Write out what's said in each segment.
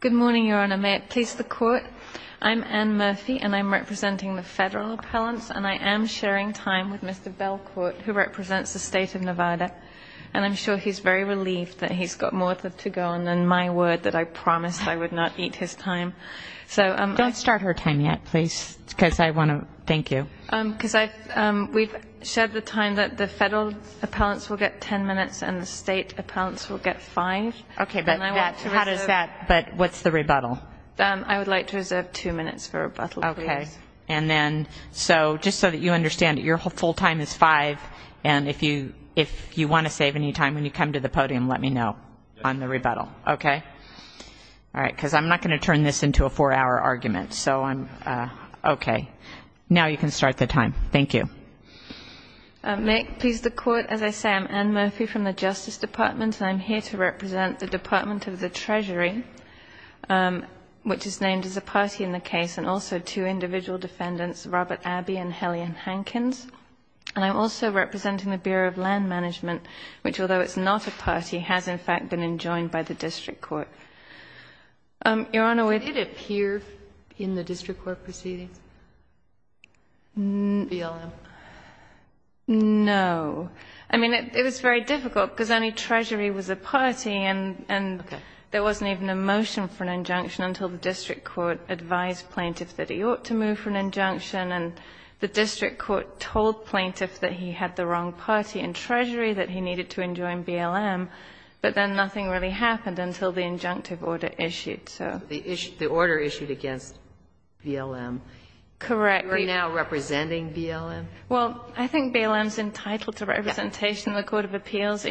Good morning, Your Honor. May it please the Court, I'm Anne Murphy, and I'm representing the Federal Appellants, and I am sharing time with Mr. Belcourt, who represents the State of Nevada, and I'm sure he's very relieved that he's got more to go on than my word that I promised I would not eat his time. Don't start her time yet, please, because I want to thank you. Because we've shared the time that the Federal Appellants will get 10 minutes and the State Appellants will get 5. Okay, but how does that, but what's the rebuttal? I would like to reserve 2 minutes for rebuttal, please. Okay, and then, so just so that you understand, your full time is 5, and if you want to save any time when you come to the podium, let me know on the rebuttal, okay? All right, because I'm not going to turn this into a 4-hour argument, so I'm, okay. Now you can start the time. Thank you. May it please the Court, as I say, I'm Anne Murphy from the Justice Department, and I'm here to represent the Department of the Treasury, which is named as a party in the case, and also two individual defendants, Robert Abbey and Helene Hankins. And I'm also representing the Bureau of Land Management, which, although it's not a party, has in fact been enjoined by the district court. Your Honor, we did appear in the district court proceedings. BLM? No. I mean, it was very difficult, because only Treasury was a party, and there wasn't even a motion for an injunction until the district court advised plaintiff that he ought to move for an injunction, and the district court told plaintiff that he had the wrong party in Treasury, that he needed to enjoin BLM, but then nothing really happened until the injunctive order issued, so. The order issued against BLM. Correct. You are now representing BLM? Well, I think BLM is entitled to representation in the Court of Appeals.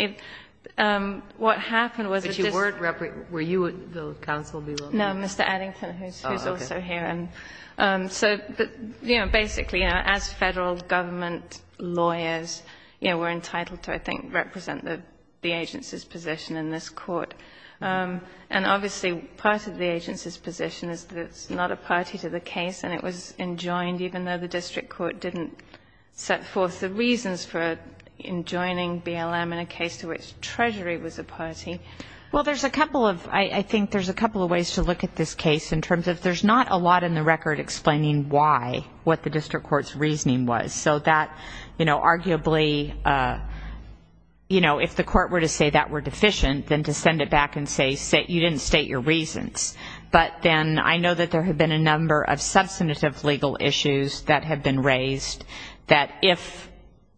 What happened was it just — But you weren't — were you the counsel, BLM? No, Mr. Addington, who's also here. Oh, okay. So, but, you know, basically, you know, as Federal government lawyers, you know, we're entitled to, I think, represent the agency's position in this Court. And obviously, part of the agency's position is that it's not a party to the case, and it was enjoined even though the district court didn't set forth the reasons for enjoining BLM in a case to which Treasury was a party. Well, there's a couple of — I think there's a couple of ways to look at this case in terms of there's not a lot in the record explaining why, what the district court's reasoning was. And so that, you know, arguably, you know, if the court were to say that we're deficient, then to send it back and say you didn't state your reasons. But then I know that there have been a number of substantive legal issues that have been raised that if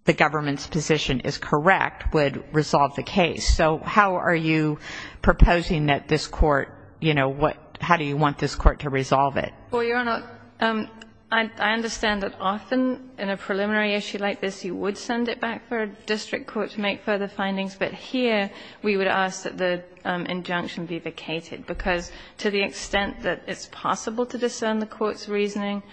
the government's position is correct would resolve the case. So how are you proposing that this court, you know, how do you want this court to resolve it? Well, Your Honor, I understand that often in a preliminary issue like this you would send it back for a district court to make further findings. But here we would ask that the injunction be vacated, because to the extent that it's possible to discern the court's reasoning,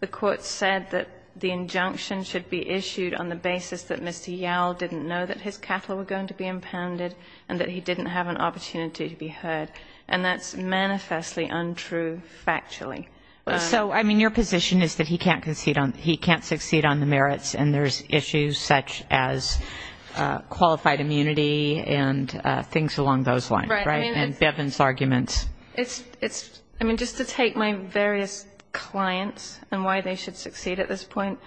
the court said that the injunction should be issued on the basis that Mr. Yowell didn't know that his cattle were going to be impounded and that he didn't have an opportunity to be heard. And that's manifestly untrue factually. So, I mean, your position is that he can't succeed on the merits and there's issues such as qualified immunity and things along those lines, right, and Bevin's arguments. It's, I mean, just to take my various clients and why they should succeed at this point,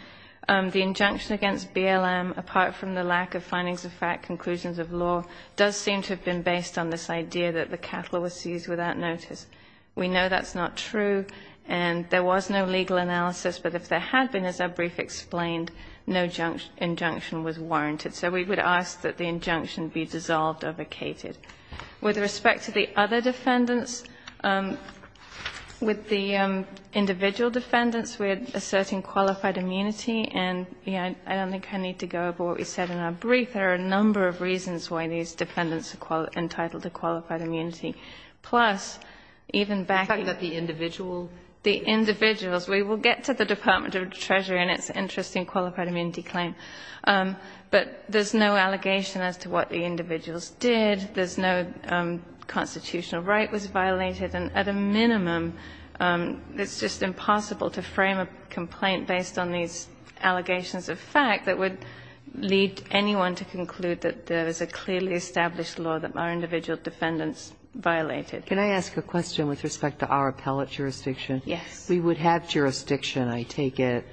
the injunction against BLM, apart from the lack of findings of fact, conclusions of law, does seem to have been based on this idea that the cattle were seized without notice. We know that's not true, and there was no legal analysis. But if there had been, as our brief explained, no injunction was warranted. So we would ask that the injunction be dissolved or vacated. With respect to the other defendants, with the individual defendants, we're asserting qualified immunity. And I don't think I need to go over what we said in our brief. There are a number of reasons why these defendants are entitled to qualified immunity. Plus, even backing up the individual. The individuals. We will get to the Department of Treasury and its interest in qualified immunity claim. But there's no allegation as to what the individuals did. There's no constitutional right was violated. And at a minimum, it's just impossible to frame a complaint based on these allegations of fact that would lead anyone to conclude that there is a clearly established law that our individual defendants violated. Can I ask a question with respect to our appellate jurisdiction? Yes. We would have jurisdiction, I take it,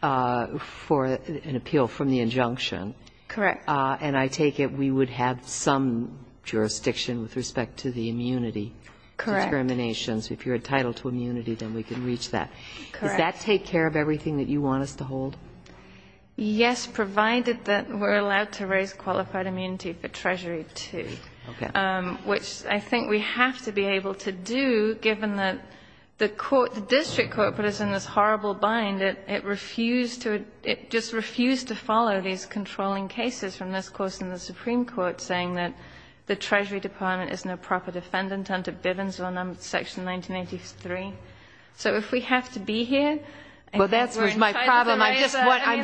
for an appeal from the injunction. Correct. And I take it we would have some jurisdiction with respect to the immunity. Correct. Determinations. If you're entitled to immunity, then we can reach that. Correct. Does that take care of everything that you want us to hold? Yes, provided that we're allowed to raise qualified immunity for Treasury 2. Okay. Which I think we have to be able to do, given that the court, the district court, put us in this horrible bind. It refused to, it just refused to follow these controlling cases from this course in the Supreme Court, saying that the Treasury Department is no proper defendant under Bivens law section 1983. So if we have to be here. Well, that's my problem. I'm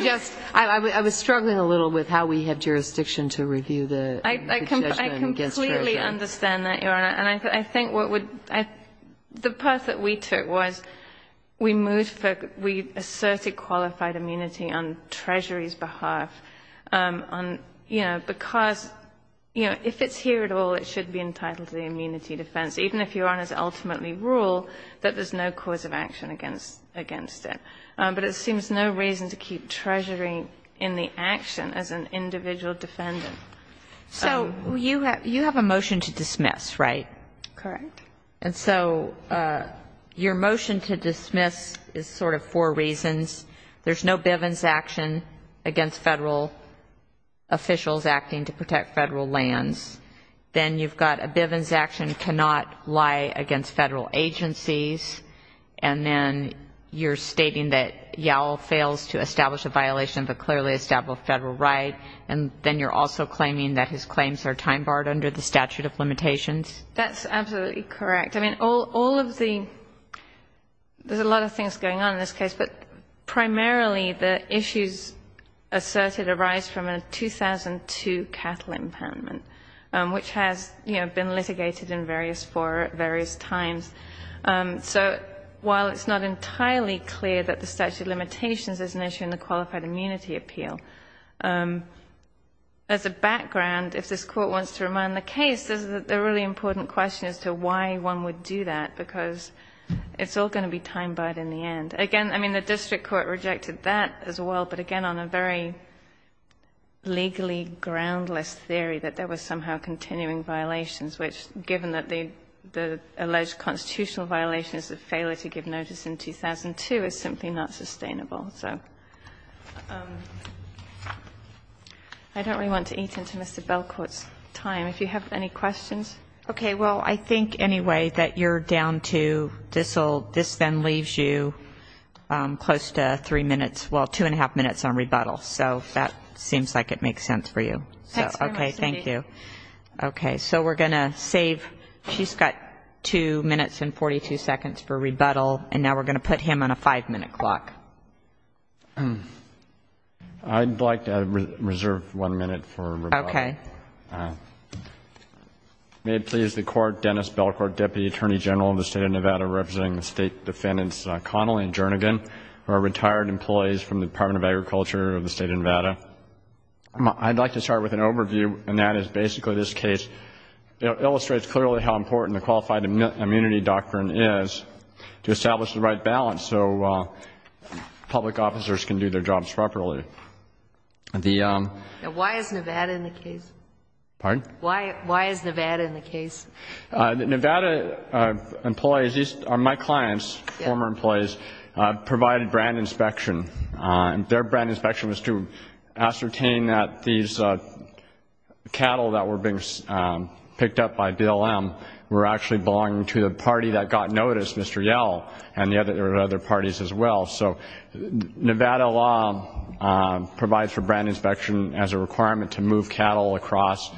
just, I was struggling a little with how we have jurisdiction to review the judgment against Treasury. I completely understand that, Your Honor. And I think what would, the path that we took was we moved, we asserted qualified immunity on Treasury's behalf on, you know, because, you know, if it's here at all, it should be entitled to the immunity defense, even if Your Honors ultimately rule that there's no cause of action against it. But it seems no reason to keep Treasury in the action as an individual defendant. So you have a motion to dismiss, right? Correct. And so your motion to dismiss is sort of four reasons. There's no Bivens action against Federal officials acting to protect Federal lands. Then you've got a Bivens action cannot lie against Federal agencies. And then you're stating that Yowell fails to establish a violation of a clearly established Federal right. And then you're also claiming that his claims are time-barred under the statute of limitations. That's absolutely correct. I mean, all of the, there's a lot of things going on in this case, but primarily the issues asserted arise from a 2002 cattle impoundment, which has, you know, been litigated in various, for various times. So while it's not entirely clear that the statute of limitations is an issue in the qualified immunity appeal, as a background, if this Court wants to remind the case, there's a really important question as to why one would do that, because it's all going to be time-barred in the end. Again, I mean, the district court rejected that as well, but again on a very legally groundless theory that there was somehow continuing violations, which given that the alleged constitutional violations of failure to give notice in 2002 is simply not sustainable. So I don't really want to eat into Mr. Belcourt's time. If you have any questions? Okay. Well, I think anyway that you're down to, this then leaves you close to three minutes, well, two and a half minutes on rebuttal. So that seems like it makes sense for you. Okay. Thank you. Okay. So we're going to save, she's got two minutes and 42 seconds for rebuttal, and now we're going to put him on a five-minute clock. I'd like to reserve one minute for rebuttal. Okay. May it please the Court, Dennis Belcourt, Deputy Attorney General of the State of Nevada, representing the State Defendants Connell and Jernigan, who are retired employees from the Department of Agriculture of the State of Nevada. I'd like to start with an overview, and that is basically this case. It illustrates clearly how important the qualified immunity doctrine is to establish the right balance so public officers can do their jobs properly. Why is Nevada in the case? Pardon? Why is Nevada in the case? Nevada employees, these are my clients, former employees, provided brand inspection. Their brand inspection was to ascertain that these cattle that were being picked up by BLM were actually belonging to the party that got noticed, Mr. Yell, and there were other parties as well. So Nevada law provides for brand inspection as a requirement to move cattle across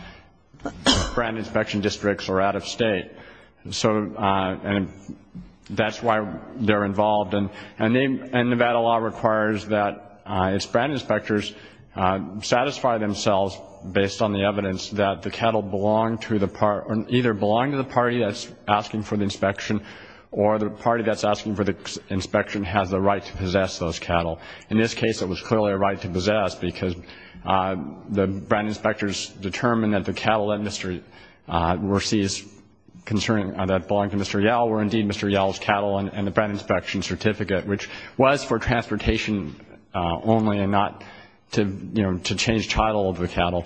brand inspection districts or out of state, and that's why they're involved. Nevada law requires that its brand inspectors satisfy themselves based on the evidence that the cattle either belong to the party that's asking for the inspection or the party that's asking for the inspection has the right to possess those cattle. In this case, it was clearly a right to possess because the brand inspectors determined that the cattle that belonged to Mr. Yell were indeed Mr. Yell's cattle and the brand inspection certificate, which was for transportation only and not to change title of the cattle.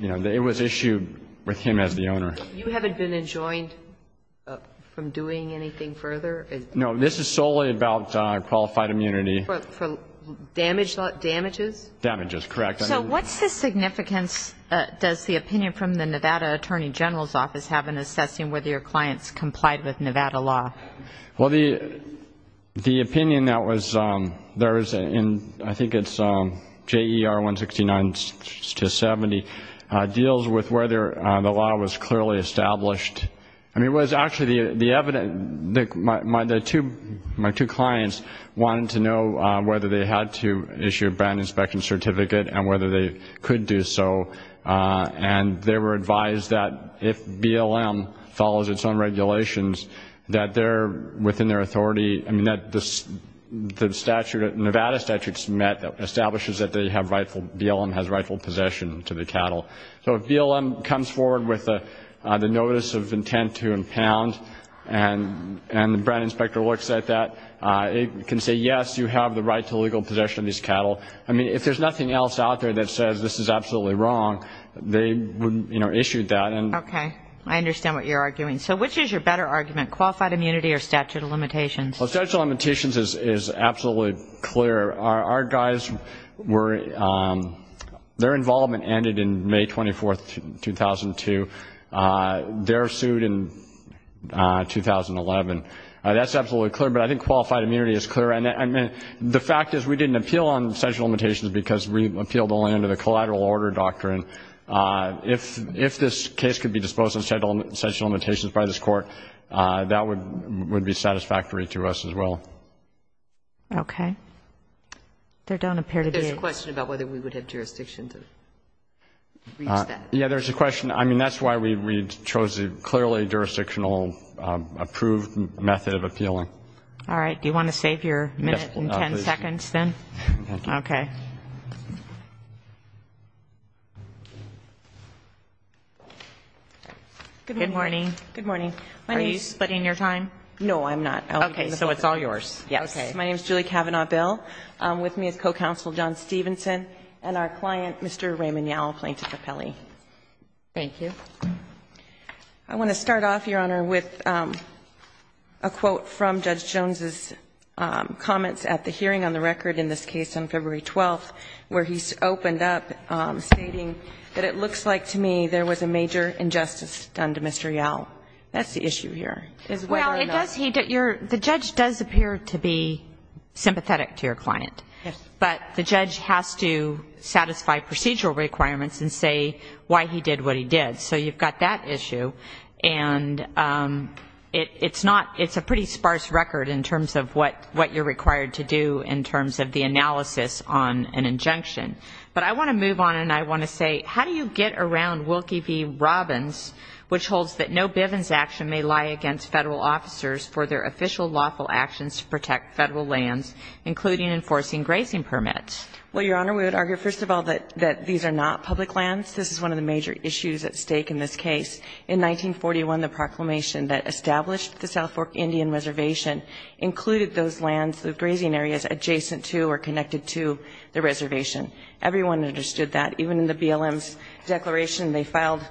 It was issued with him as the owner. You haven't been enjoined from doing anything further? No, this is solely about qualified immunity. For damages? Damages, correct. So what's the significance, does the opinion from the Nevada Attorney General's Office have in assessing whether your clients complied with Nevada law? Well, the opinion that was, I think it's JER169-70, deals with whether the law was clearly established. It was actually the evidence, my two clients wanted to know whether they had to issue a brand inspection certificate and whether they could do so, and they were advised that if BLM follows its own regulations, that they're within their authority. I mean, the Nevada statute establishes that BLM has rightful possession to the cattle. So if BLM comes forward with the notice of intent to impound and the brand inspector looks at that, it can say, yes, you have the right to legal possession of these cattle. I mean, if there's nothing else out there that says this is absolutely wrong, they would issue that. Okay. I understand what you're arguing. So which is your better argument, qualified immunity or statute of limitations? Well, statute of limitations is absolutely clear. Our guys were, their involvement ended in May 24th, 2002. They're sued in 2011. That's absolutely clear, but I think qualified immunity is clear. And the fact is we didn't appeal on statute of limitations because we appealed only under the collateral order doctrine. If this case could be disposed of in statute of limitations by this court, that would be satisfactory to us as well. Okay. There don't appear to be any. There's a question about whether we would have jurisdiction to reach that. Yeah, there's a question. I mean, that's why we chose a clearly jurisdictional approved method of appealing. All right. Do you want to save your minute and ten seconds then? Okay. Good morning. Good morning. Are you splitting your time? No, I'm not. Okay. So it's all yours. Yes. Okay. My name is Julie Cavanaugh-Bell. With me is co-counsel John Stevenson and our client, Mr. Raymond Yowell, plaintiff of Pele. Thank you. I want to start off, Your Honor, with a quote from Judge Jones' comments at the hearing on the record in this case on February 12th where he opened up stating that it looks like to me there was a major injustice done to Mr. Yowell. That's the issue here. Well, it does. The judge does appear to be sympathetic to your client. Yes. But the judge has to satisfy procedural requirements and say why he did what he did. So you've got that issue. And it's a pretty sparse record in terms of what you're required to do in terms of the analysis on an injunction. But I want to move on and I want to say how do you get around Wilkie v. Robbins, which holds that no Bivens action may lie against federal officers for their official lawful actions to protect federal lands, including enforcing grazing permits? Well, Your Honor, we would argue, first of all, that these are not public lands. This is one of the major issues at stake in this case. In 1941, the proclamation that established the South Fork Indian Reservation included those lands, the grazing areas adjacent to or connected to the reservation. Everyone understood that. Even in the BLM's declaration they filed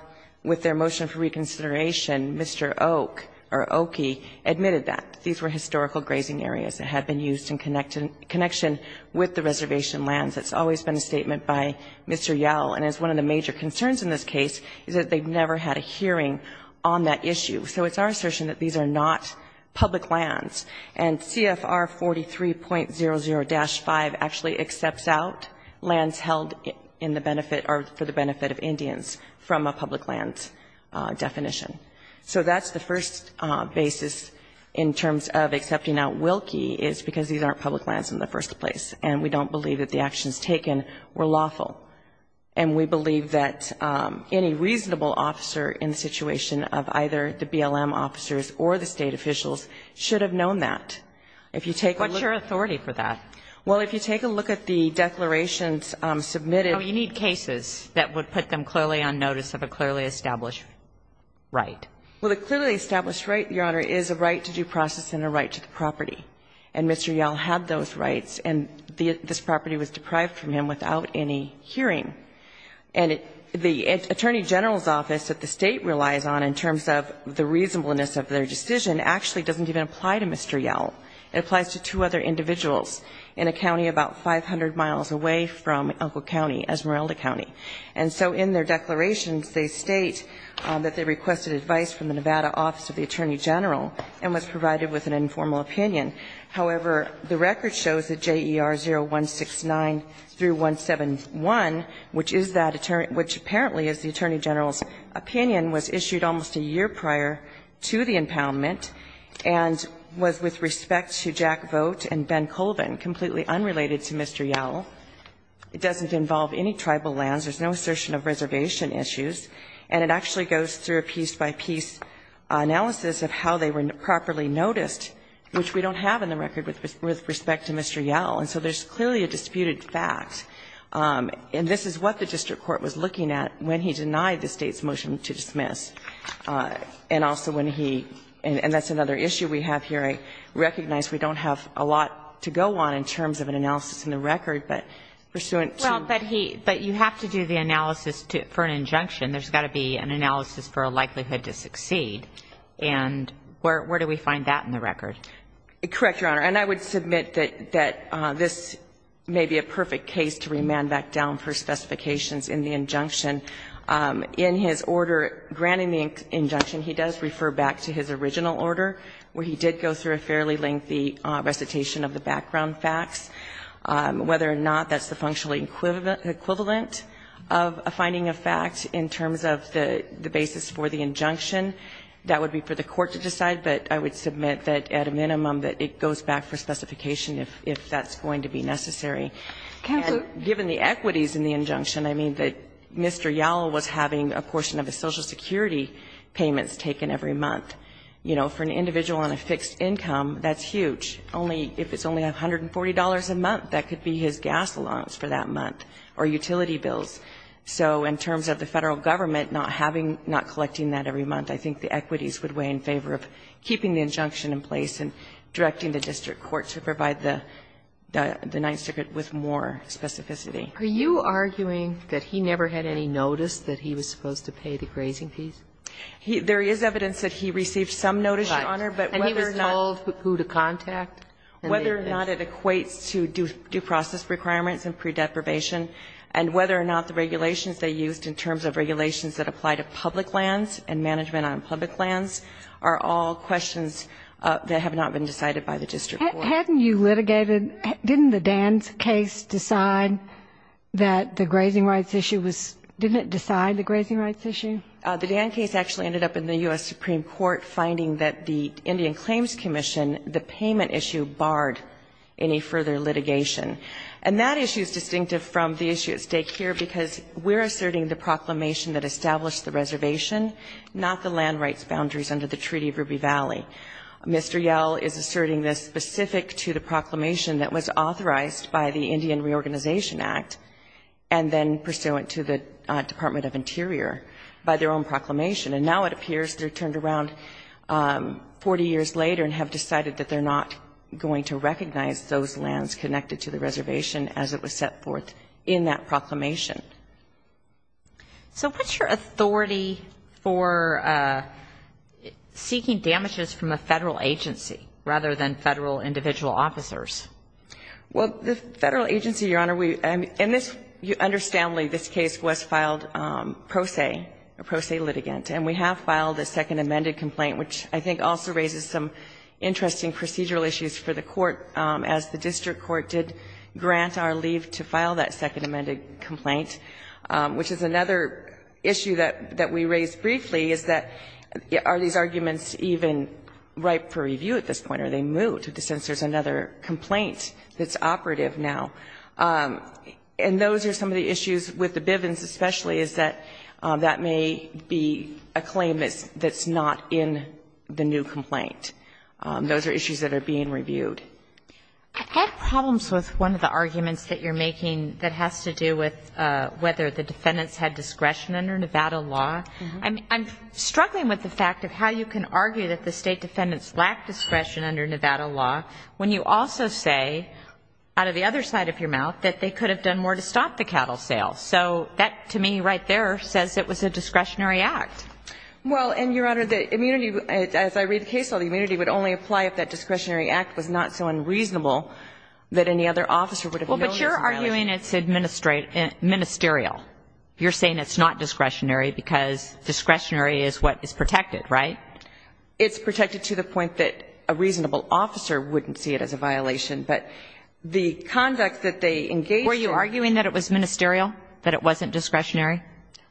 with their motion for reconsideration, Mr. Oak or Okie admitted that these were historical grazing areas that had been used in connection with the reservation lands. It's always been a statement by Mr. Yow. And it's one of the major concerns in this case is that they've never had a hearing on that issue. So it's our assertion that these are not public lands. And CFR 43.00-5 actually accepts out lands held in the benefit or for the benefit of Indians from a public lands definition. So that's the first basis in terms of accepting out Wilkie is because these aren't public lands in the first place. And we don't believe that the actions taken were lawful. And we believe that any reasonable officer in the situation of either the BLM officers or the State officials should have known that. If you take a look. What's your authority for that? Well, if you take a look at the declarations submitted. You need cases that would put them clearly on notice of a clearly established right. Well, the clearly established right, Your Honor, is a right to due process and a right to the property. And Mr. Yow had those rights. And this property was deprived from him without any hearing. And the Attorney General's Office that the State relies on in terms of the reasonableness of their decision actually doesn't even apply to Mr. Yow. It applies to two other individuals in a county about 500 miles away from Elko County, Esmeralda County. And so in their declarations, they state that they requested advice from the Nevada Office of the Attorney General and was provided with an informal opinion. However, the record shows that J.E.R. 0169-171, which is that attorney – which apparently is the Attorney General's opinion, was issued almost a year prior to the impoundment and was with respect to Jack Vogt and Ben Colvin, completely unrelated to Mr. Yow. It doesn't involve any tribal lands. There's no assertion of reservation issues. And it actually goes through a piece-by-piece analysis of how they were properly noticed, which we don't have in the record with respect to Mr. Yow. And so there's clearly a disputed fact. And this is what the district court was looking at when he denied the State's motion to dismiss, and also when he – and that's another issue we have here. I recognize we don't have a lot to go on in terms of an analysis in the record, but pursuant to – But you have to do the analysis for an injunction. There's got to be an analysis for a likelihood to succeed. And where do we find that in the record? Correct, Your Honor. And I would submit that this may be a perfect case to remand back down for specifications in the injunction. In his order granting the injunction, he does refer back to his original order, where he did go through a fairly lengthy recitation of the background facts. Whether or not that's the functional equivalent of a finding of fact in terms of the basis for the injunction, that would be for the court to decide. But I would submit that, at a minimum, that it goes back for specification if that's going to be necessary. And given the equities in the injunction, I mean that Mr. Yow was having a portion of his Social Security payments taken every month. You know, for an individual on a fixed income, that's huge. Only if it's only $140 a month, that could be his gas allowance for that month, or utility bills. So in terms of the Federal Government not having, not collecting that every month, I think the equities would weigh in favor of keeping the injunction in place and directing the district court to provide the Ninth Circuit with more specificity. Are you arguing that he never had any notice that he was supposed to pay the grazing fees? There is evidence that he received some notice, Your Honor, but whether or not he equates to due process requirements and pre-deprivation, and whether or not the regulations they used in terms of regulations that apply to public lands and management on public lands are all questions that have not been decided by the district court. Hadn't you litigated, didn't the Dan's case decide that the grazing rights issue was, didn't it decide the grazing rights issue? The Dan case actually ended up in the U.S. Supreme Court finding that the Indian Claims Commission, the payment issue barred any further litigation. And that issue is distinctive from the issue at stake here because we're asserting the proclamation that established the reservation, not the land rights boundaries under the Treaty of Ruby Valley. Mr. Yell is asserting this specific to the proclamation that was authorized by the Indian Reorganization Act, and then pursuant to the Department of Interior by their own proclamation. And now it appears they're turned around 40 years later and have decided that they're not going to recognize those lands connected to the reservation as it was set forth in that proclamation. So what's your authority for seeking damages from a Federal agency rather than Federal individual officers? Well, the Federal agency, Your Honor, we, in this, you understand this case was filed pro se, a pro se litigant. And we have filed a second amended complaint, which I think also raises some interesting procedural issues for the Court, as the district court did grant our leave to file that second amended complaint, which is another issue that we raised briefly, is that are these arguments even ripe for review at this point? Are they moot? Since there's another complaint that's operative now. And those are some of the issues with the Bivens, especially, is that that may be a claim that's not in the new complaint. Those are issues that are being reviewed. I have problems with one of the arguments that you're making that has to do with whether the defendants had discretion under Nevada law. I'm struggling with the fact of how you can argue that the State defendants lack discretion under Nevada law when you also say, out of the other side of your mouth, that they could have done more to stop the cattle sale. So that, to me, right there, says it was a discretionary act. Well, and, Your Honor, the immunity, as I read the case law, the immunity would only apply if that discretionary act was not so unreasonable that any other officer would have known it was an violation. Well, but you're arguing it's ministerial. You're saying it's not discretionary because discretionary is what is protected, right? It's protected to the point that a reasonable officer wouldn't see it as a violation. But the conduct that they engaged in was not discretionary. Were you arguing that it was ministerial, that it wasn't discretionary?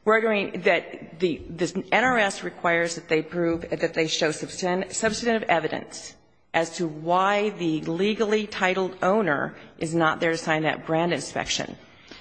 We're arguing that the NRS requires that they prove, that they show substantive evidence as to why the legally titled owner is not there to sign that brand inspection.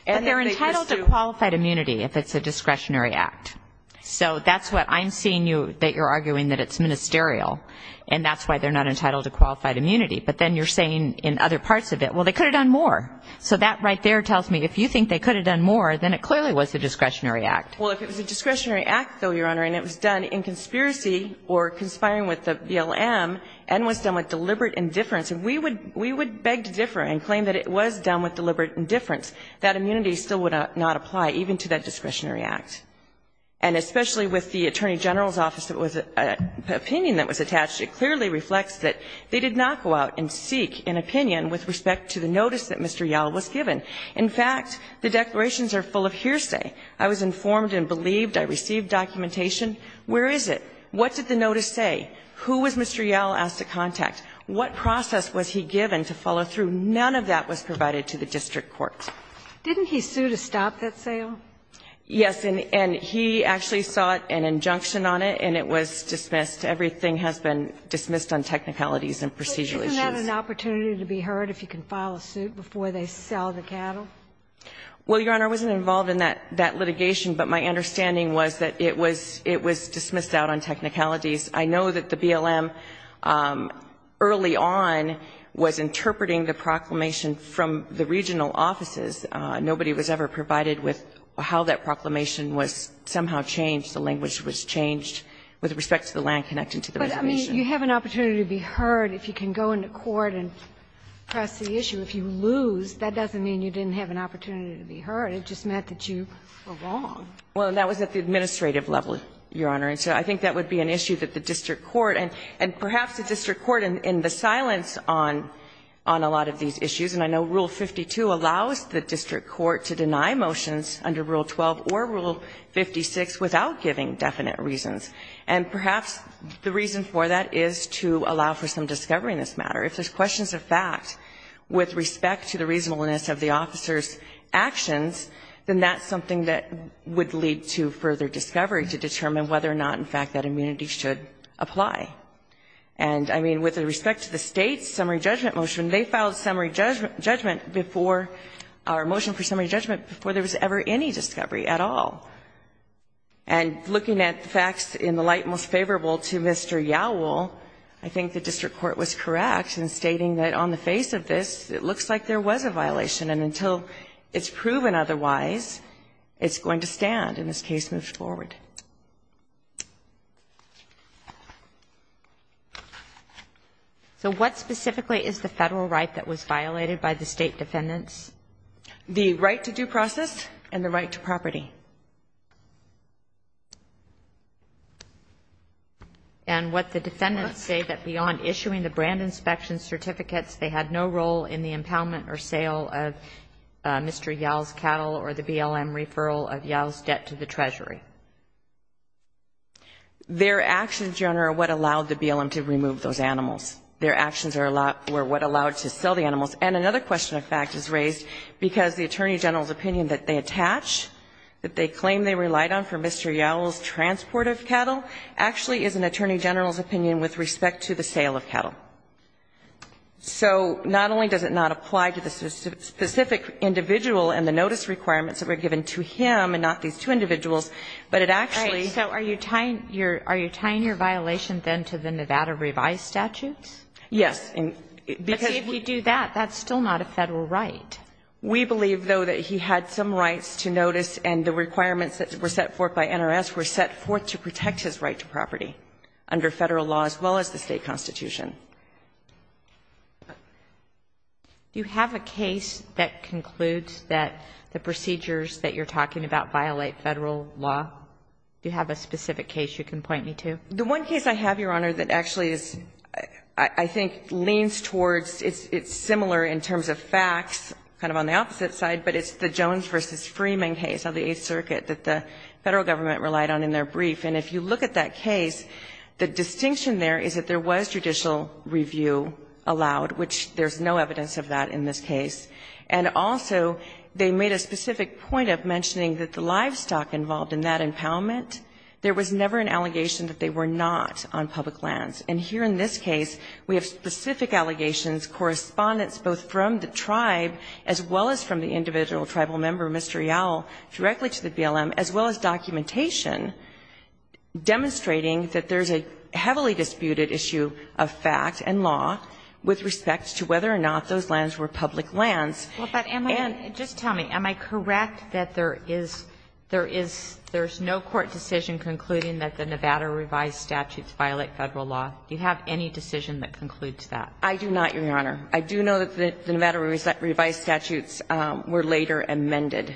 But they're entitled to qualified immunity if it's a discretionary act. So that's what I'm seeing you, that you're arguing that it's ministerial and that's why they're not entitled to qualified immunity. But then you're saying in other parts of it, well, they could have done more. So that right there tells me if you think they could have done more, then it clearly was a discretionary act. Well, if it was a discretionary act, though, Your Honor, and it was done in conspiracy or conspiring with the BLM and was done with deliberate indifference, we would beg to differ and claim that it was done with deliberate indifference. That immunity still would not apply even to that discretionary act. And especially with the Attorney General's office, it was an opinion that was attached. It clearly reflects that they did not go out and seek an opinion with respect to the notice that Mr. Yall was given. In fact, the declarations are full of hearsay. I was informed and believed. I received documentation. Where is it? What did the notice say? Who was Mr. Yall asked to contact? What process was he given to follow through? None of that was provided to the district court. Didn't he sue to stop that sale? Yes. And he actually sought an injunction on it, and it was dismissed. Everything has been dismissed on technicalities and procedural issues. But isn't that an opportunity to be heard if you can file a suit before they sell the cattle? Well, Your Honor, I wasn't involved in that litigation, but my understanding was that it was dismissed out on technicalities. I know that the BLM early on was interpreting the proclamation from the regional offices. Nobody was ever provided with how that proclamation was somehow changed. The language was changed with respect to the land connecting to the reservation. But, I mean, you have an opportunity to be heard if you can go into court and press the issue. If you lose, that doesn't mean you didn't have an opportunity to be heard. It just meant that you were wrong. Well, that was at the administrative level, Your Honor. And so I think that would be an issue that the district court and perhaps the district court in the silence on a lot of these issues. And I know Rule 52 allows the district court to deny motions under Rule 12 or Rule 56 without giving definite reasons. And perhaps the reason for that is to allow for some discovery in this matter. If there's questions of fact with respect to the reasonableness of the officer's actions, then that's something that would lead to further discovery to determine whether or not, in fact, that immunity should apply. And, I mean, with respect to the State's summary judgment motion, they filed summary judgment before our motion for summary judgment before there was ever any discovery at all. And looking at the facts in the light most favorable to Mr. Yowell, I think the district court was correct in stating that on the face of this, it looks like there was a violation. And until it's proven otherwise, it's going to stand in this case moving forward. So what specifically is the Federal right that was violated by the State defendants? The right to due process and the right to property. And what the defendants say that beyond issuing the brand inspection certificates they had no role in the impoundment or sale of Mr. Yowell's cattle or the BLM referral story. Their actions, Your Honor, are what allowed the BLM to remove those animals. Their actions were what allowed to sell the animals. And another question of fact is raised because the Attorney General's opinion that they attach, that they claim they relied on for Mr. Yowell's transport of cattle, actually is an Attorney General's opinion with respect to the sale of cattle. So not only does it not apply to the specific individual and the notice requirements that were given to him and not these two individuals, but it actually ---- All right. So are you tying your violation then to the Nevada revised statutes? Yes. Because ---- But see, if you do that, that's still not a Federal right. We believe, though, that he had some rights to notice and the requirements that were set forth by NRS were set forth to protect his right to property under Federal law as well as the state constitution. Do you have a case that concludes that the procedures that you're talking about violate Federal law? Do you have a specific case you can point me to? The one case I have, Your Honor, that actually is, I think, leans towards, it's similar in terms of facts, kind of on the opposite side, but it's the Jones v. Freeman case of the Eighth Circuit that the Federal government relied on in their case. The distinction there is that there was judicial review allowed, which there's no evidence of that in this case. And also, they made a specific point of mentioning that the livestock involved in that impoundment, there was never an allegation that they were not on public lands. And here in this case, we have specific allegations, correspondence both from the tribe as well as from the individual tribal member, Mr. Yowell, directly to the BLM, as well as documentation demonstrating that there's a heavily disputed issue of fact and law with respect to whether or not those lands were public lands. And just tell me, am I correct that there is no court decision concluding that the Nevada revised statutes violate Federal law? Do you have any decision that concludes that? I do not, Your Honor. I do know that the Nevada revised statutes were later amended.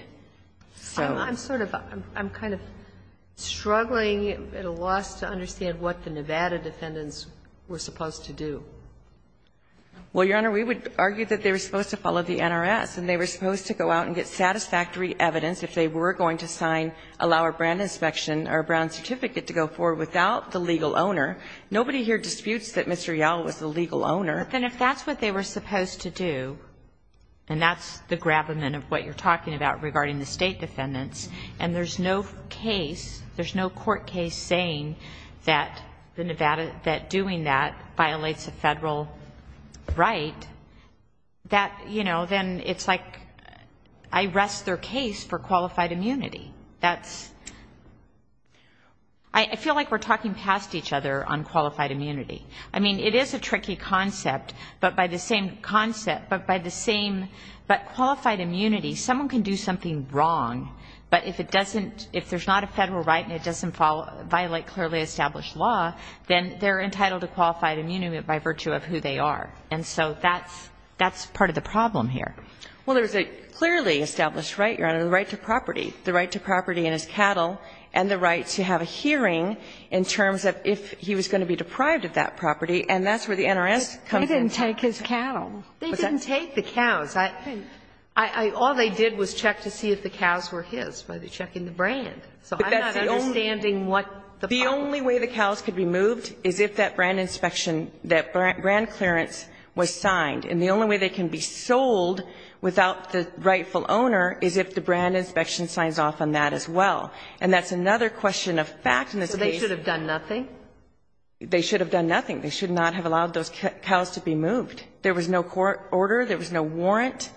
I'm sort of, I'm kind of struggling at a loss to understand what the Nevada defendants were supposed to do. Well, Your Honor, we would argue that they were supposed to follow the NRS, and they were supposed to go out and get satisfactory evidence if they were going to sign, allow a brand inspection or a brand certificate to go forward without the legal owner. Nobody here disputes that Mr. Yowell was the legal owner. But then if that's what they were supposed to do, and that's the gravamen of what you're talking about regarding the state defendants, and there's no case, there's no court case saying that the Nevada, that doing that violates a Federal right, that, you know, then it's like I rest their case for qualified immunity. That's, I feel like we're talking past each other on qualified immunity. I mean, it is a tricky concept, but by the same concept, but by the same, but qualified immunity, someone can do something wrong, but if it doesn't, if there's not a Federal right and it doesn't follow, violate clearly established law, then they're entitled to qualified immunity by virtue of who they are. And so that's, that's part of the problem here. Well, there's a clearly established right, Your Honor, the right to property. The right to property and his cattle, and the right to have a hearing in terms of if he was going to be deprived of that property, and that's where the NRS comes in. They didn't take his cattle. They didn't take the cows. I, I, all they did was check to see if the cows were his by checking the brand. So I'm not understanding what the problem is. The only way the cows could be moved is if that brand inspection, that brand clearance was signed. And the only way they can be sold without the rightful owner is if the brand inspection signs off on that as well. And that's another question of fact in this case. So they should have done nothing? They should have done nothing. They should not have allowed those cows to be moved. There was no court order. There was no warrant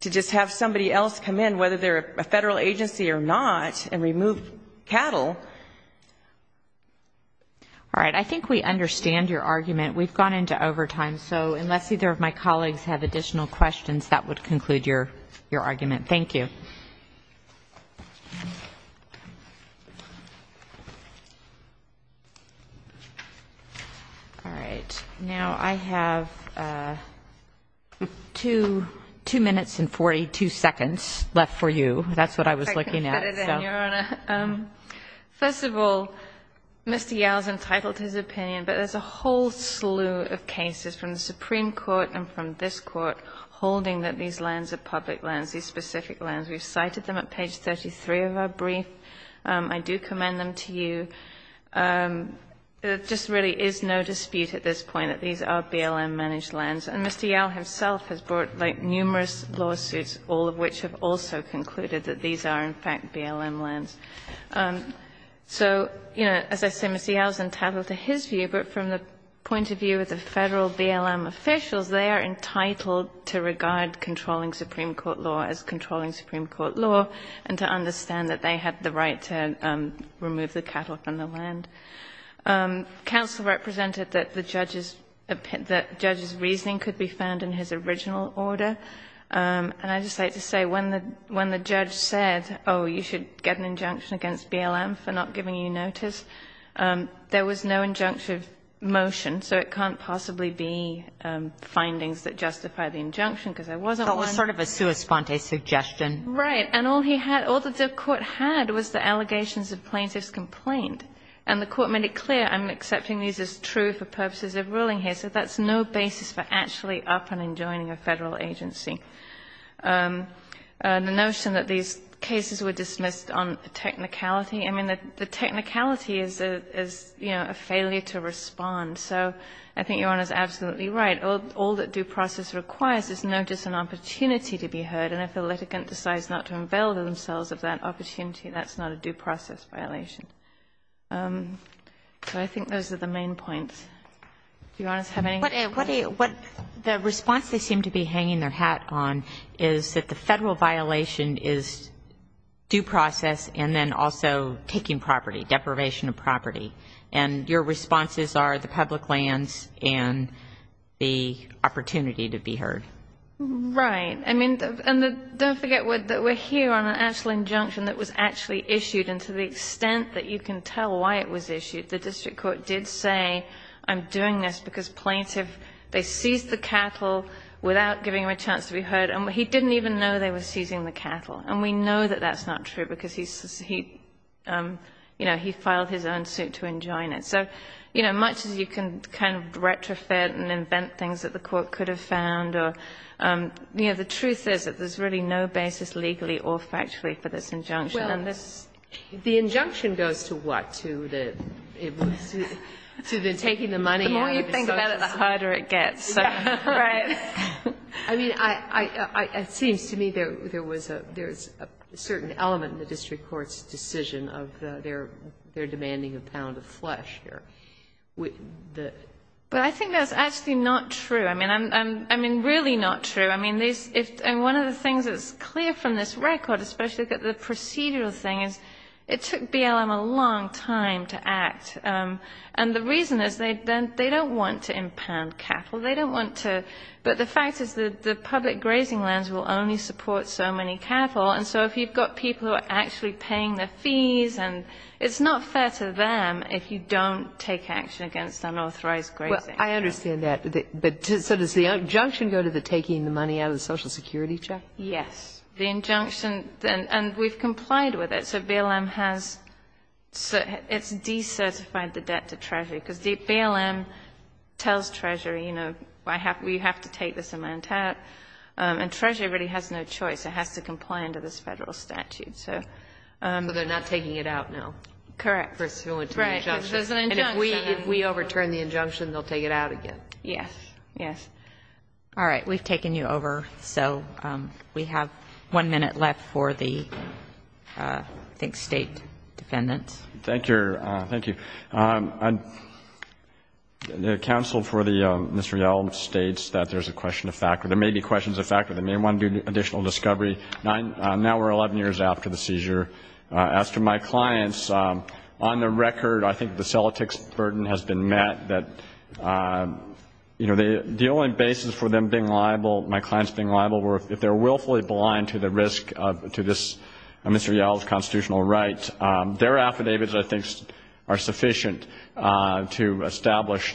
to just have somebody else come in, whether they're a Federal agency or not, and remove cattle. All right. I think we understand your argument. We've gone into overtime. So unless either of my colleagues have additional questions, that would conclude your, your argument. Thank you. All right. Now I have two, two minutes and 42 seconds left for you. That's what I was looking at. I can cut it in, Your Honor. First of all, Mr. Yowell's entitled to his opinion, but there's a whole slew of cases from the Supreme Court and from this Court holding that these lands are public lands, these specific lands. We've cited them at page 33 of our brief. I do commend them to you. There just really is no dispute at this point that these are BLM-managed lands. And Mr. Yowell himself has brought, like, numerous lawsuits, all of which have also been BLM lands. So, you know, as I say, Mr. Yowell's entitled to his view, but from the point of view of the Federal BLM officials, they are entitled to regard controlling Supreme Court law as controlling Supreme Court law and to understand that they have the right to remove the cattle from the land. Counsel represented that the judge's, that judge's reasoning could be found in his original order. And I'd just like to say, when the judge said, oh, you should get an injunction against BLM for not giving you notice, there was no injunctive motion, so it can't possibly be findings that justify the injunction, because there wasn't one. But it was sort of a sua sponte suggestion. Right. And all he had, all that the Court had was the allegations of plaintiff's complaint. And the Court made it clear, I'm accepting these as true for purposes of ruling here. So that's no basis for actually upping and joining a Federal agency. The notion that these cases were dismissed on technicality, I mean, the technicality is, you know, a failure to respond. So I think Your Honor's absolutely right. All that due process requires is notice and opportunity to be heard. And if the litigant decides not to avail themselves of that opportunity, that's not a due process violation. So I think those are the main points. Do Your Honors have any? What the response they seem to be hanging their hat on is that the Federal violation is due process and then also taking property, deprivation of property. And your responses are the public lands and the opportunity to be heard. Right. I mean, and don't forget that we're here on an actual injunction that was actually issued, and to the extent that you can tell why it was issued, the district court did say I'm doing this because plaintiff, they seized the cattle without giving him a chance to be heard. And he didn't even know they were seizing the cattle. And we know that that's not true because he, you know, he filed his own suit to enjoin it. So, you know, much as you can kind of retrofit and invent things that the court could have found or, you know, the truth is that there's really no basis legally or factually for this injunction. Well, the injunction goes to what? To the taking the money out of the social service? The more you think about it, the harder it gets. Right. I mean, it seems to me there was a certain element in the district court's decision of their demanding a pound of flesh. But I think that's actually not true. I mean, really not true. I mean, one of the things that's clear from this record, especially the procedural thing, is it took BLM a long time to act. And the reason is they don't want to impound cattle. They don't want to. But the fact is that the public grazing lands will only support so many cattle. And so if you've got people who are actually paying the fees and it's not fair to them if you don't take action against unauthorized grazing. Well, I understand that. But so does the injunction go to the taking the money out of the social security check? Yes. The injunction, and we've complied with it. So BLM has, it's decertified the debt to Treasury. Because BLM tells Treasury, you know, we have to take this amount out. And Treasury really has no choice. It has to comply under this Federal statute. So they're not taking it out now. Correct. Because there's an injunction. And if we overturn the injunction, they'll take it out again. Correct. Yes. Yes. All right. We've taken you over. So we have one minute left for the, I think, State defendants. Thank you. Thank you. The counsel for the Mr. Yelm states that there's a question of factor. There may be questions of factor. They may want to do additional discovery. Now we're 11 years after the seizure. As to my clients, on the record, I think the Celtics' burden has been met. That, you know, the only basis for them being liable, my clients being liable, were if they're willfully blind to the risk to this Mr. Yelm's constitutional rights. Their affidavits, I think, are sufficient to establish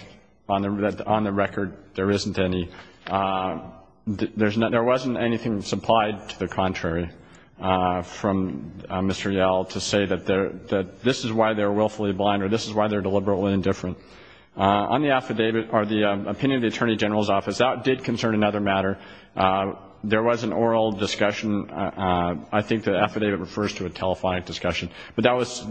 on the record there isn't any. There wasn't anything supplied to the contrary from Mr. Yelm to say that this is why they're willfully blind or this is why they're deliberately indifferent. On the affidavit or the opinion of the Attorney General's Office, that did concern another matter. There was an oral discussion. I think the affidavit refers to a telephonic discussion. But that was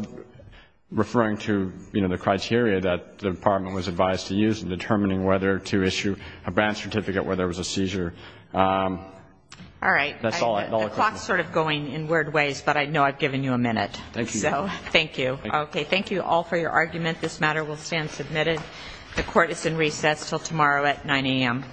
referring to, you know, the criteria that the Department was advised to use in determining whether to issue a branch certificate, where there was a seizure. All right. That's all. The clock's sort of going in weird ways, but I know I've given you a minute. Thank you. Thank you. Okay. Thank you all for your argument. This matter will stand submitted. The Court is in recess until tomorrow at 9 a.m.